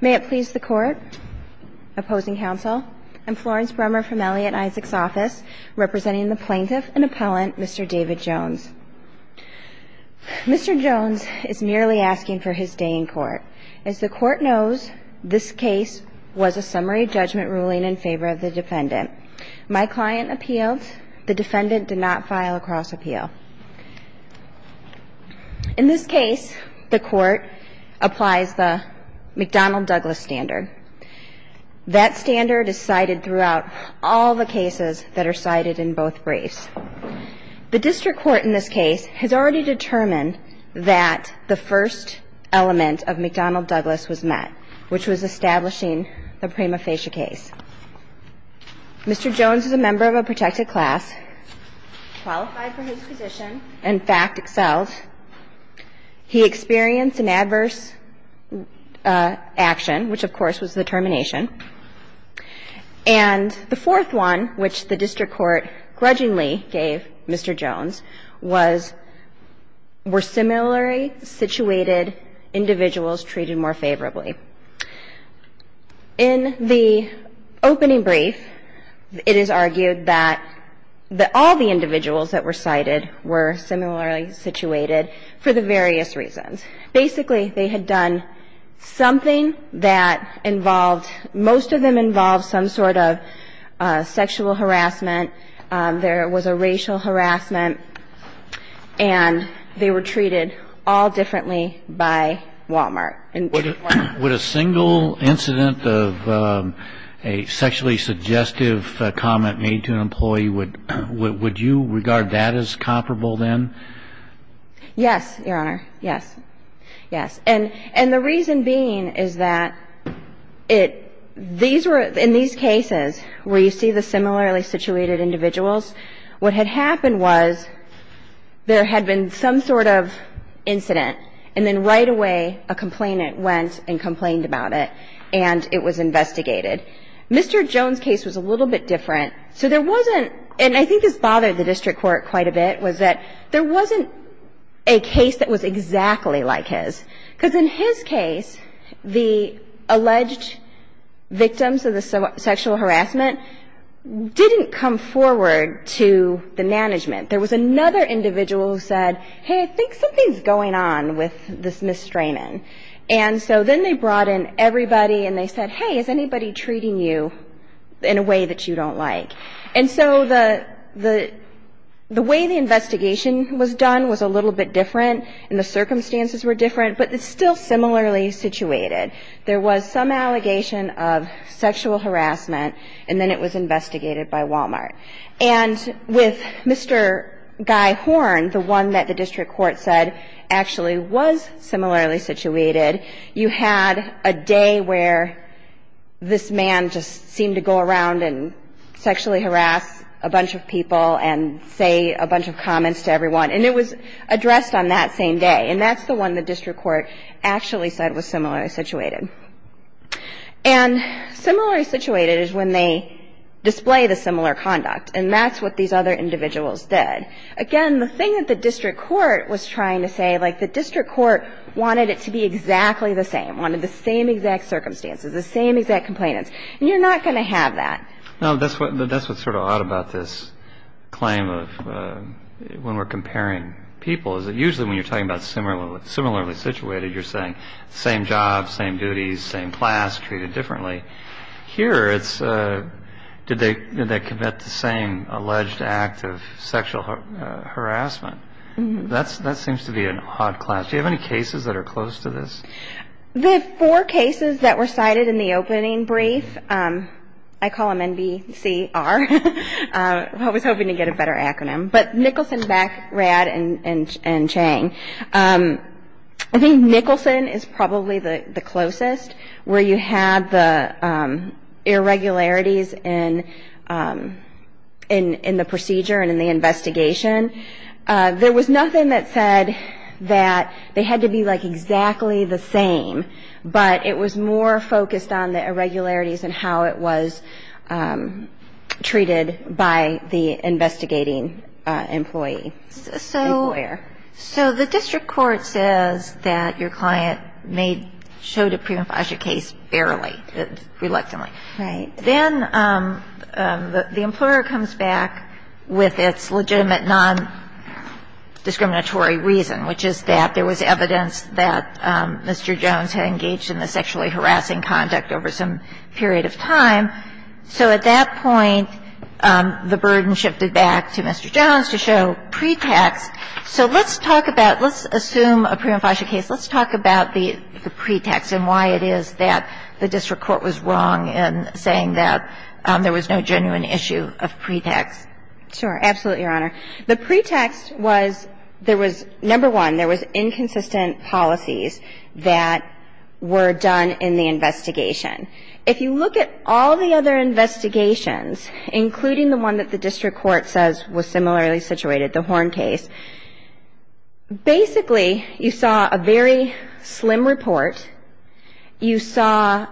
May it please the Court, Opposing Counsel, I'm Florence Brummer from Elliot Issac's Office, representing the Plaintiff and Appellant, Mr. David Jones. Mr. Jones is merely asking for his day in court. As the Court knows, this case was a summary judgment ruling in favor of the defendant. My client appealed. The defendant did not file a cross appeal. In this case, the Court applies the McDonnell-Douglas standard. That standard is cited throughout all the cases that are cited in both briefs. The District Court in this case has already determined that the defendant did not file a cross appeal. Mr. Jones is a member of a protected class, qualified for his position, and fact excels. He experienced an adverse action, which, of course, was the termination. And the fourth one, which the District Court grudgingly gave Mr. Jones, was were similarly situated individuals treated more favorably. In the opening brief, it is argued that all the individuals that were cited were similarly situated for the various reasons. Basically, they had done something that involved, most of them involved some sort of sexual harassment. There was a racial harassment. And they were treated all differently by Walmart. Would a single incident of a sexually suggestive comment made to an employee, would you regard that as comparable then? Yes, Your Honor. Yes. Yes. And the reason being is that it – these were – in these cases where you see the similarly situated individuals, what had happened was there had been some sort of incident, and then right away a complainant went and complained about it, and it was investigated. Mr. Jones' case was a little bit different. So there wasn't – and I think this bothered the District Court quite a bit, was that there wasn't a case that was exactly like his. Because in his case, the alleged victims of the sexual harassment didn't come forward to the management. There was another individual who said, hey, I think something's going on with this misstraining. And so then they brought in everybody, and they said, hey, is anybody treating you in a way that you don't like? And so the way the investigation was done was a little bit different, and the circumstances were different, but it's still similarly situated. There was some allegation of sexual harassment, and then it was investigated by Walmart. And with Mr. Guy Horne, the one that the District Court said actually was similarly situated, you had a day where this man just seemed to go around and sexually harass a bunch of people and say a bunch of comments to everyone. And it was addressed on that same day. And that's the one the District Court actually said was similarly situated. And similarly situated is when they display the similar conduct, and that's what these other individuals did. Again, the thing that the District Court was trying to say, like, the District Court wanted it to be exactly the same, wanted the same exact circumstances, the same exact complainants. And you're not going to have that. No, that's what's sort of odd about this claim of when we're comparing people, is that usually when you're talking about similarly situated, you're saying same job, same duties, same class, treated differently. Here, it's did they commit the same alleged act of sexual harassment. That seems to be an odd class. Do you have any cases that are close to this? The four cases that were cited in the opening brief, I call them NBCR. I was hoping to get a better acronym. But Nicholson, Backrad, and Chang. I think Nicholson is probably the closest, where you had the irregularities in the procedure and in the investigation. There was nothing that said that they had to be, like, exactly the same, but it was more focused on the irregularities and how it was treated by the investigating employee, the employer. So the District Court says that your client made, showed a prima facie case fairly, reluctantly. Right. Then the employer comes back with its legitimate non-discriminatory reason, which is that there was evidence that Mr. Jones had engaged in the sexually harassing conduct over some period of time. So at that point, the burden shifted back to Mr. Jones to show pretext. So let's talk about, let's assume a prima facie case, let's talk about the pretext and why it is that the District Court was wrong in saying that there was no genuine Sure. Absolutely, Your Honor. The pretext was there was, number one, there was inconsistent policies that were done in the investigation. If you look at all the other investigations, including the one that the District Court says was similarly situated, the Horn case, basically you saw a very slim report. You saw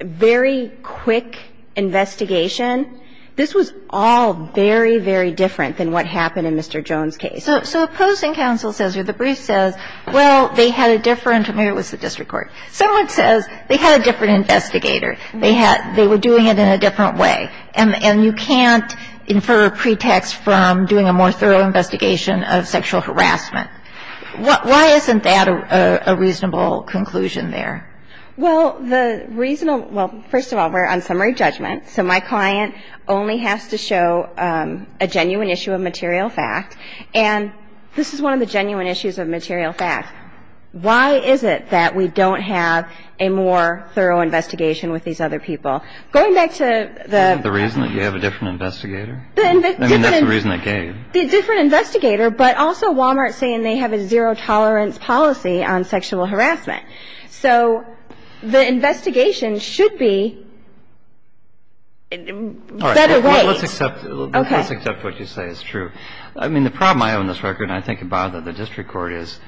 very quick investigation. This was all very, very different than what happened in Mr. Jones' case. So opposing counsel says or the brief says, well, they had a different, maybe it was the District Court, someone says they had a different investigator, they were doing it in a different way, and you can't infer a pretext from doing a more thorough investigation of sexual harassment. Why isn't that a reasonable conclusion there? Well, the reasonable, well, first of all, we're on summary judgment. So my client only has to show a genuine issue of material fact. And this is one of the genuine issues of material fact. Why is it that we don't have a more thorough investigation with these other people? Going back to the The reason that you have a different investigator? I mean, that's the reason they gave. The different investigator, but also Wal-Mart saying they have a zero tolerance policy on sexual harassment. So the investigation should be set away. All right. Let's accept what you say is true. I mean, the problem I own this record and I think about it in the District Court is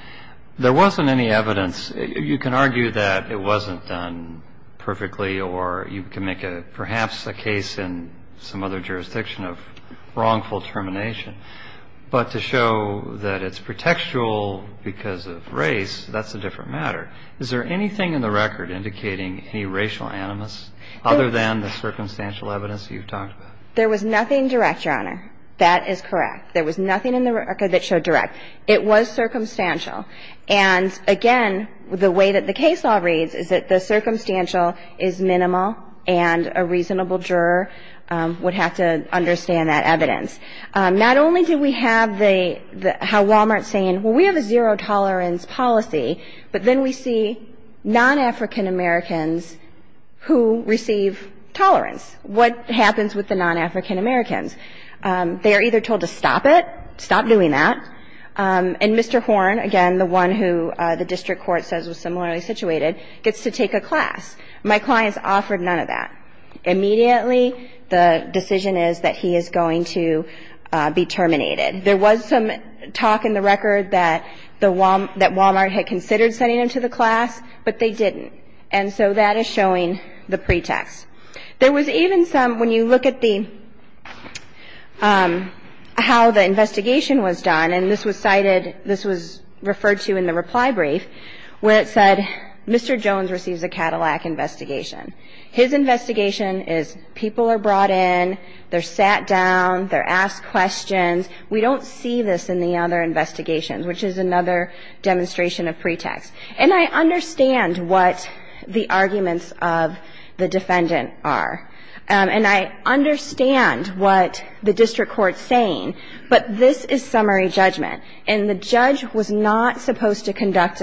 there wasn't any evidence. You can argue that it wasn't done perfectly or you can make perhaps a case in some other jurisdiction of wrongful termination. But to show that it's pretextual because of race, that's a different matter. Is there anything in the record indicating any racial animus other than the circumstantial evidence you've talked about? There was nothing direct, Your Honor. That is correct. There was nothing in the record that showed direct. It was circumstantial. And, again, the way that the case law reads is that the circumstantial is minimal and a reasonable juror would have to understand that evidence. Not only do we have how Wal-Mart's saying, well, we have a zero tolerance policy, but then we see non-African Americans who receive tolerance. What happens with the non-African Americans? They are either told to stop it, stop doing that, and Mr. Horn, again, the one who the District Court says was similarly situated, gets to take a class. My client's offered none of that. Immediately, the decision is that he is going to be terminated. There was some talk in the record that the Wal-Mart, that Wal-Mart had considered sending him to the class, but they didn't. And so that is showing the pretext. There was even some, when you look at the, how the investigation was done, and this was cited, this was referred to in the reply brief, where it said, Mr. Jones receives a Cadillac investigation. His investigation is people are brought in, they're sat down, they're asked questions. We don't see this in the other investigations, which is another demonstration of pretext. And I understand what the arguments of the defendant are. And I understand what the District Court's saying, but this is summary judgment. And the judge was not supposed to conduct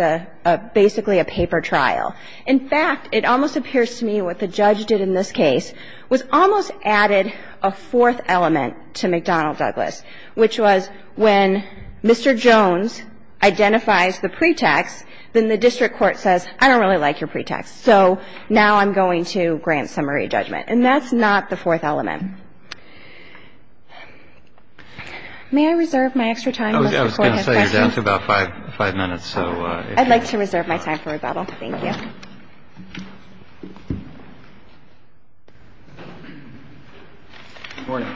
basically a paper trial. In fact, it almost appears to me what the judge did in this case was almost added a fourth element to McDonnell-Douglas, which was when Mr. Jones identifies the pretext, then the District Court says, I don't really like your pretext, so now I'm going to grant summary judgment. And that's not the fourth element. May I reserve my extra time, Mr. Forten? I was going to say, you're down to about five minutes. I'd like to reserve my time for rebuttal. Thank you. Good morning.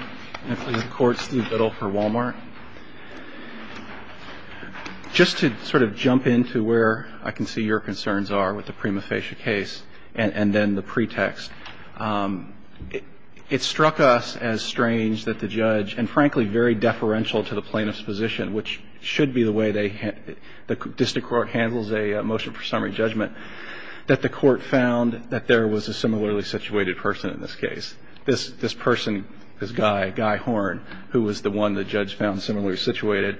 I'm from the court. Steve Biddle for Walmart. Just to sort of jump into where I can see your concerns are with the prima facie case and then the pretext, it struck us as strange that the judge, and frankly very deferential to the plaintiff's position, which should be the way the District Court handles a motion for summary judgment, that the court found that there was a similarly situated person in this case. This person, this guy, Guy Horn, who was the one the judge found similarly situated,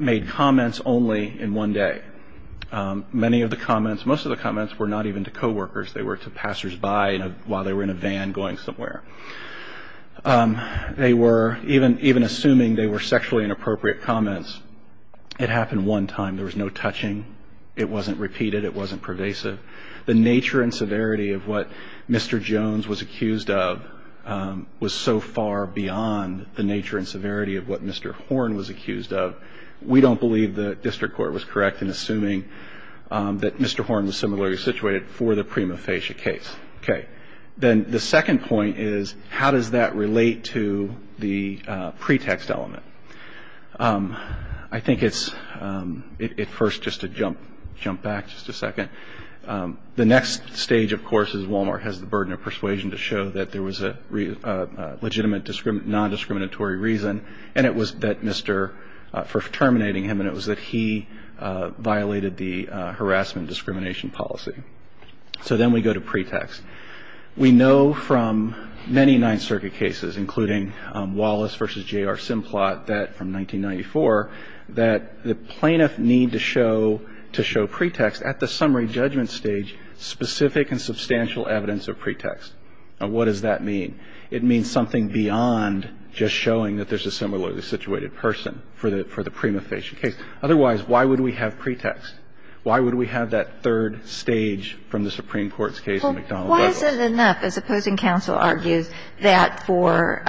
made comments only in one day. Many of the comments, most of the comments were not even to coworkers. They were to passersby while they were in a van going somewhere. They were, even assuming they were sexually inappropriate comments, it happened one time. There was no touching. It wasn't repeated. It wasn't pervasive. The nature and severity of what Mr. Jones was accused of was so far beyond the nature and severity of what Mr. Horn was accused of. We don't believe the District Court was correct in assuming that Mr. Horn was similarly situated for the prima facie case. Okay. Then the second point is, how does that relate to the pretext element? I think it's, at first, just to jump back just a second, the next stage, of course, is Walmart has the burden of persuasion to show that there was a legitimate non-discriminatory reason, and it was that Mr., for terminating him, and it was that he violated the harassment discrimination policy. So then we go to pretext. We know from many Ninth Circuit cases, including Wallace v. J.R. Simplot from 1994, that the plaintiff needed to show pretext at the summary judgment stage specific and substantial evidence of pretext. Now, what does that mean? It means something beyond just showing that there's a similarly situated person for the prima facie case. Otherwise, why would we have pretext? Why would we have that third stage from the Supreme Court's case in McDonnell v. Butler? Well, why is it enough, as opposing counsel argues, that for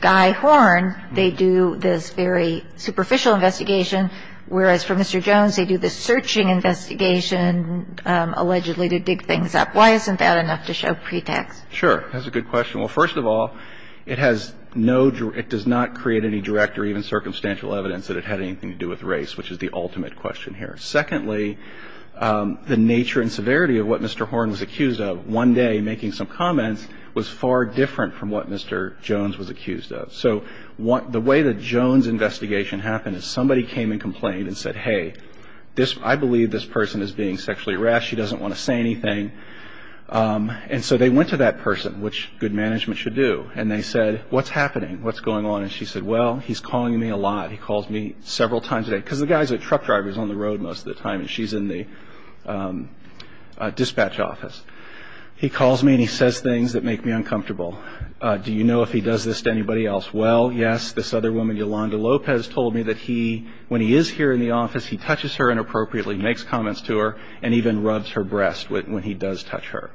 Guy Horn, they do this very superficial investigation, whereas for Mr. Jones, they do this searching investigation, allegedly to dig things up? Why isn't that enough to show pretext? Sure. That's a good question. Well, first of all, it has no – it does not create any direct or even circumstantial evidence that it had anything to do with race, which is the ultimate question here. Secondly, the nature and severity of what Mr. Horn was accused of, one day, making some comments, was far different from what Mr. Jones was accused of. So the way that Jones' investigation happened is somebody came and complained and said, hey, this – I believe this person is being sexually harassed. She doesn't want to say anything. And so they went to that person, which good management should do, and they said, what's happening? What's going on? And she said, well, he's calling me a lot. He calls me several times a day, because the guy's a truck driver, he's on the road most of the time, and she's in the dispatch office. He calls me and he says things that make me uncomfortable. Do you know if he does this to anybody else? Well, yes, this other woman, Yolanda Lopez, told me that he – when he is here in the office, he touches her inappropriately, makes comments to her, and even rubs her breast when he does touch her.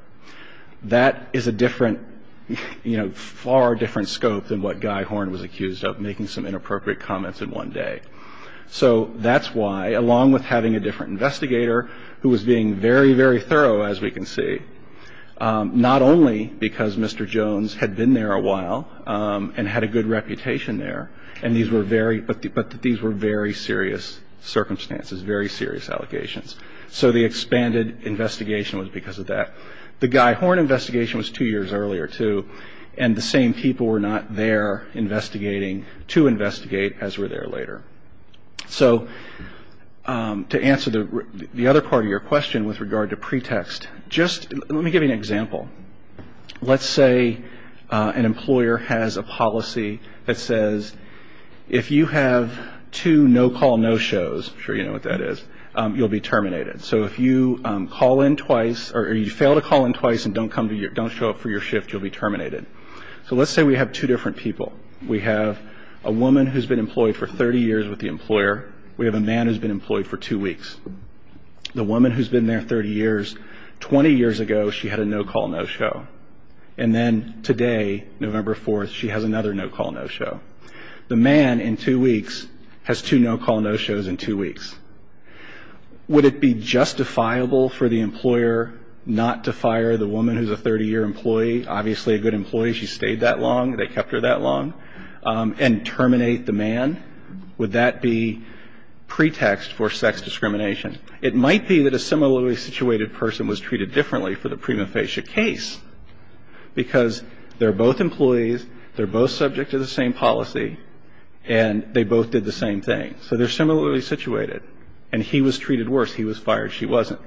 That is a different – you know, far different scope than what Guy Horn was accused of, making some inappropriate comments in one day. So that's why, along with having a different investigator who was being very, very thorough, as we can see, not only because Mr. Jones had been there a while and had a good reputation there, and these were very – but these were very serious circumstances, very serious allegations. So the expanded investigation was because of that. The Guy Horn investigation was two years earlier, too, and the same people were not there investigating to investigate, as were there later. So to answer the other part of your question with regard to pretext, just – let me give you an example. Let's say an employer has a policy that says if you have two no-call no-shows – I'm So if you call in twice – or you fail to call in twice and don't show up for your shift, you'll be terminated. So let's say we have two different people. We have a woman who's been employed for 30 years with the employer. We have a man who's been employed for two weeks. The woman who's been there 30 years – 20 years ago, she had a no-call no-show. And then today, November 4th, she has another no-call no-show. The man, in two weeks, has two no-call no-shows in two weeks. Would it be justifiable for the employer not to fire the woman who's a 30-year employee – obviously a good employee, she stayed that long, they kept her that long – and terminate the man? Would that be pretext for sex discrimination? It might be that a similarly situated person was treated differently for the prima facie case because they're both employees, they're both subject to the same policy, and they both did the same thing. So they're similarly situated. And he was treated worse. He was fired. She wasn't.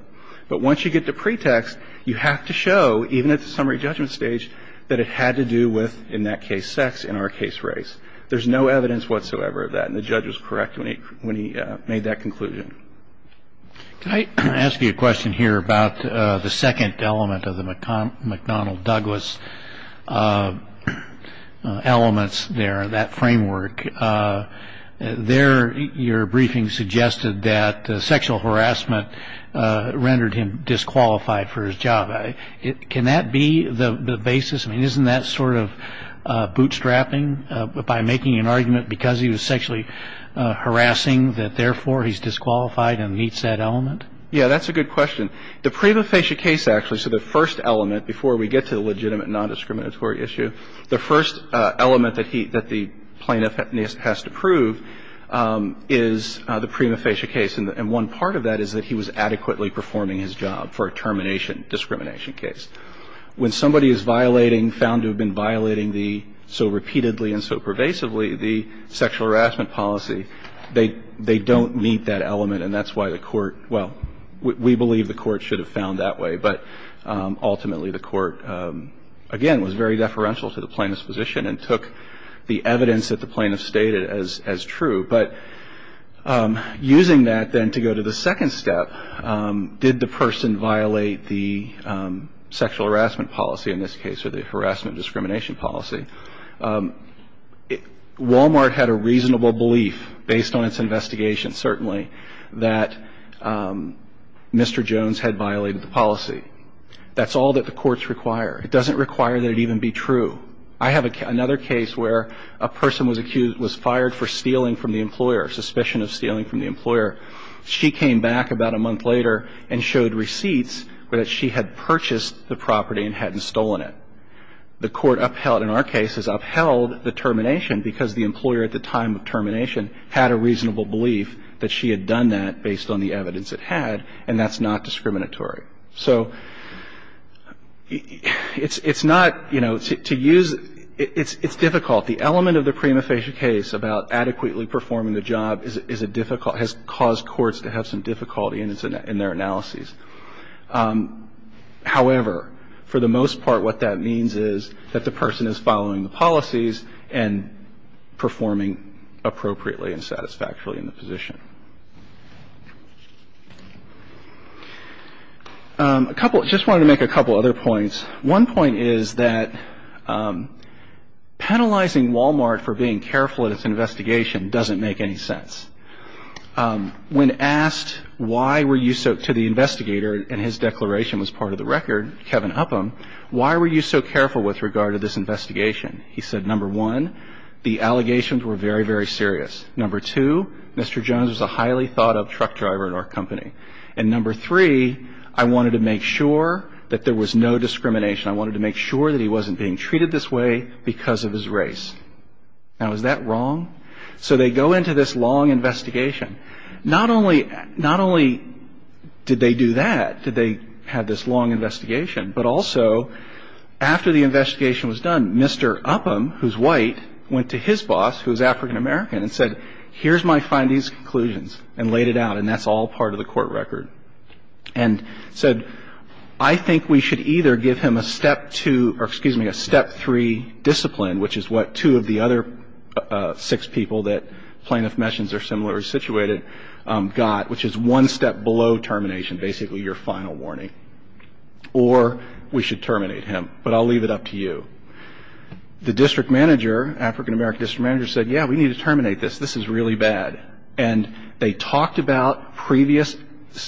But once you get the pretext, you have to show, even at the summary judgment stage, that it had to do with, in that case, sex in our case race. There's no evidence whatsoever of that. And the judge was correct when he made that conclusion. Can I ask you a question here about the second element of the McDonnell-Douglas elements there, that framework? There, your briefing suggested that sexual harassment rendered him disqualified for his job. Can that be the basis? I mean, isn't that sort of bootstrapping by making an argument because he was sexually harassing that, therefore, he's disqualified and meets that element? Yeah, that's a good question. The prima facie case, actually, so the first element before we get to the legitimate non-discriminatory issue, the first element that he, that the plaintiff has to prove is the prima facie case. And one part of that is that he was adequately performing his job for a termination discrimination case. When somebody is violating, found to have been violating the, so repeatedly and so pervasively, the sexual harassment policy, they don't meet that element. And that's why the Court, well, we believe the Court should have found that way. But ultimately, the Court, again, was very deferential to the plaintiff's position and took the evidence that the plaintiff stated as true. But using that, then, to go to the second step, did the person violate the sexual harassment policy, in this case, or the harassment discrimination policy? Walmart had a reasonable belief, based on its investigation, certainly, that Mr. Jones had violated the policy. That's all that the courts require. It doesn't require that it even be true. I have another case where a person was accused, was fired for stealing from the employer, suspicion of stealing from the employer. She came back about a month later and showed receipts where she had purchased the property and hadn't stolen it. The Court upheld, in our cases, upheld the termination because the employer, at the time of termination, had a reasonable belief that she had done that based on the evidence it had. And that's not discriminatory. So it's not, you know, to use – it's difficult. The element of the prima facie case about adequately performing the job is a difficult – has caused courts to have some difficulty in their analyses. However, for the most part, what that means is that the person is following the policies and performing appropriately and satisfactorily in the position. A couple – I just wanted to make a couple other points. One point is that penalizing Walmart for being careful in its investigation doesn't make any sense. When asked why were you so – to the investigator, and his declaration was part of the record, Kevin Upham, why were you so careful with regard to this investigation, he said, number one, the allegations were very, very serious. Number two, Mr. Jones was a highly thought-up truck driver at our company. And number three, I wanted to make sure that there was no discrimination. I wanted to make sure that he wasn't being treated this way because of his race. Now, is that wrong? So they go into this long investigation. Not only did they do that, did they have this long investigation, but also after the investigation was done, Mr. Upham, who's white, went to his boss, who's African-American, and said, here's my findings, conclusions, and laid it out. And that's all part of the court record. And said, I think we should either give him a step two – or excuse me, a step three discipline, which is what two of the other six people that plaintiff mentions are similarly situated got, which is one step below termination, basically your final warning. Or we should terminate him. But I'll leave it up to you. The district manager, African-American district manager, said, yeah, we need to terminate this. This is really bad. And they talked about previous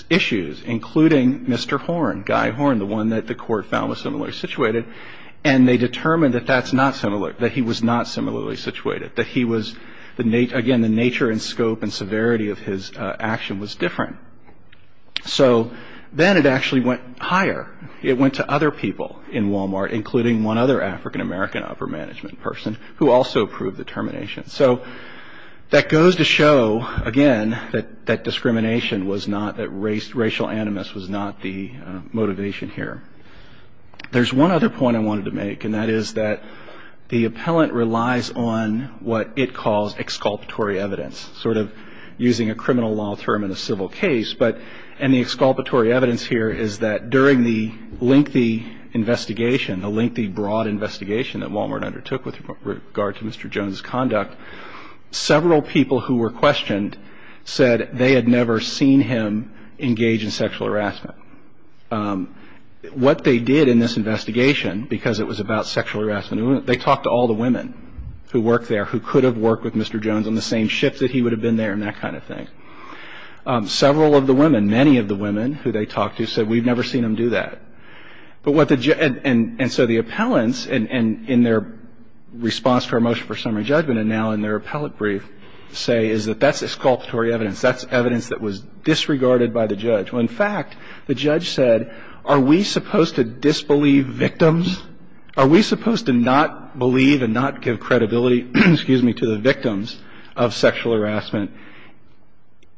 issues, including Mr. Horn, Guy Horn, the one that the court found was similarly situated. And they determined that that's not similar, that he was not similarly situated, that he was – again, the nature and scope and severity of his action was different. So then it actually went higher. It went to other people in Walmart, including one other African-American upper management person, who also approved the termination. So that goes to show, again, that discrimination was not – that racial animus was not the motivation here. There's one other point I wanted to make, and that is that the appellant relies on what it calls exculpatory evidence, sort of using a criminal law term in a civil case. But – and the exculpatory evidence here is that during the lengthy investigation, the lengthy, broad investigation that Walmart undertook with regard to Mr. Jones' conduct, several people who were questioned said they had never seen him engage in sexual harassment. What they did in this investigation, because it was about sexual harassment, they talked to all the women who worked there, who could have worked with Mr. Jones on the same ship that he would have been there, and that kind of thing. Several of the women, many of the women who they talked to, said, we've never seen him do that. But what the – and so the appellants, in their response to our motion for summary judgment, and now in their appellate brief, say is that that's exculpatory evidence. That's evidence that was disregarded by the judge. Well, in fact, the judge said, are we supposed to disbelieve victims? Are we supposed to not believe and not give credibility, excuse me, to the victims of sexual harassment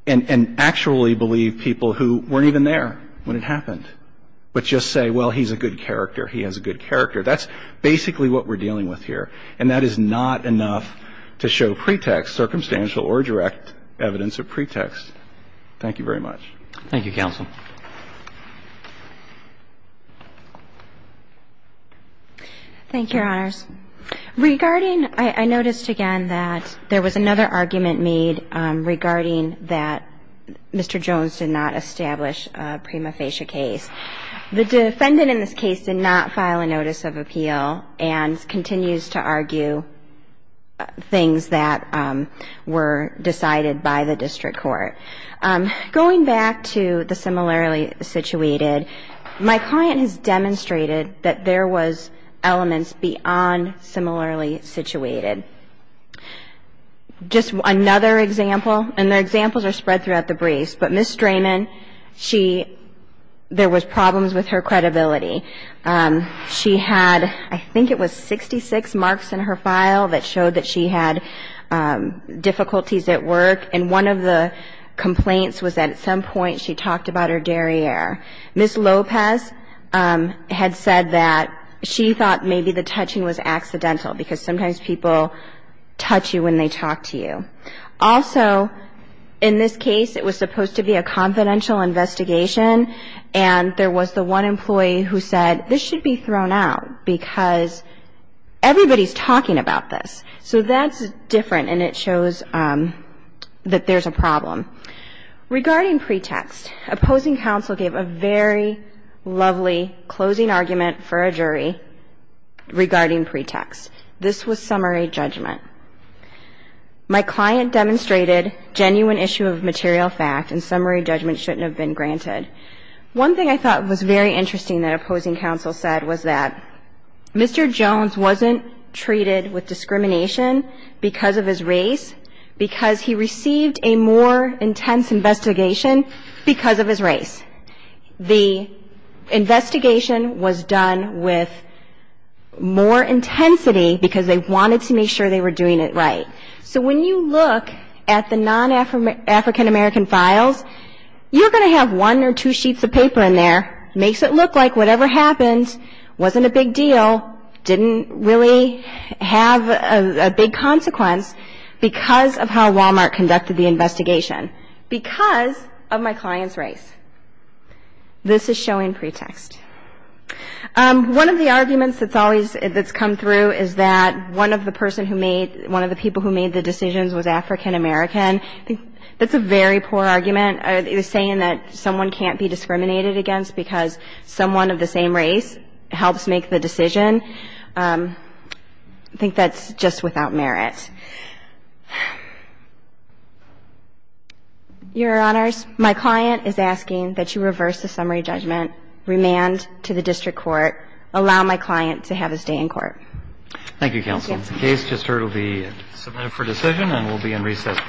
and actually believe people who weren't even there when it happened, but just say, well, he's a good character, he has a good character? That's basically what we're dealing with here. And that is not enough to show pretext, circumstantial or direct evidence of pretext. Thank you very much. Thank you, Counsel. Thank you, Your Honors. Regarding – I noticed, again, that there was another argument made regarding that Mr. Jones did not establish a prima facie case. The defendant in this case did not file a notice of appeal and continues to argue things that were decided by the district court. Going back to the similarly situated, my client has demonstrated that there was elements beyond similarly situated. Just another example, and the examples are spread throughout the briefs, but Ms. Strayman, she – there was problems with her credibility. She had, I think it was 66 marks in her file that showed that she had difficulties at work. And one of the complaints was that at some point she talked about her derriere. Ms. Lopez had said that she thought maybe the touching was accidental because sometimes people touch you when they talk to you. Also, in this case, it was supposed to be a confidential investigation, and there was the one employee who said, this should be thrown out because everybody's talking about this. So that's different, and it shows that there's a problem. Regarding pretext, opposing counsel gave a very lovely closing argument for a jury regarding pretext. This was summary judgment. My client demonstrated genuine issue of material fact, and summary judgment shouldn't have been granted. One thing I thought was very interesting that opposing counsel said was that Mr. Jones wasn't treated with discrimination because of his race because he received a more intense investigation because of his race. The investigation was done with more intensity because they wanted to make sure they were doing it right. So when you look at the non-African American files, you're going to have one or two sheets of paper in there. Makes it look like whatever happened wasn't a big deal, didn't really have a big consequence because of how Walmart conducted the investigation, because of my client's race. This is showing pretext. One of the arguments that's always come through is that one of the people who made the decisions was African American. That's a very poor argument. It was saying that someone can't be discriminated against because someone of the same race helps make the decision. I think that's just without merit. Your Honors, my client is asking that you reverse the summary judgment, remand to the district court, allow my client to have his day in court. Thank you, counsel. The case just heard will be submitted for decision and will be in recess for one minute.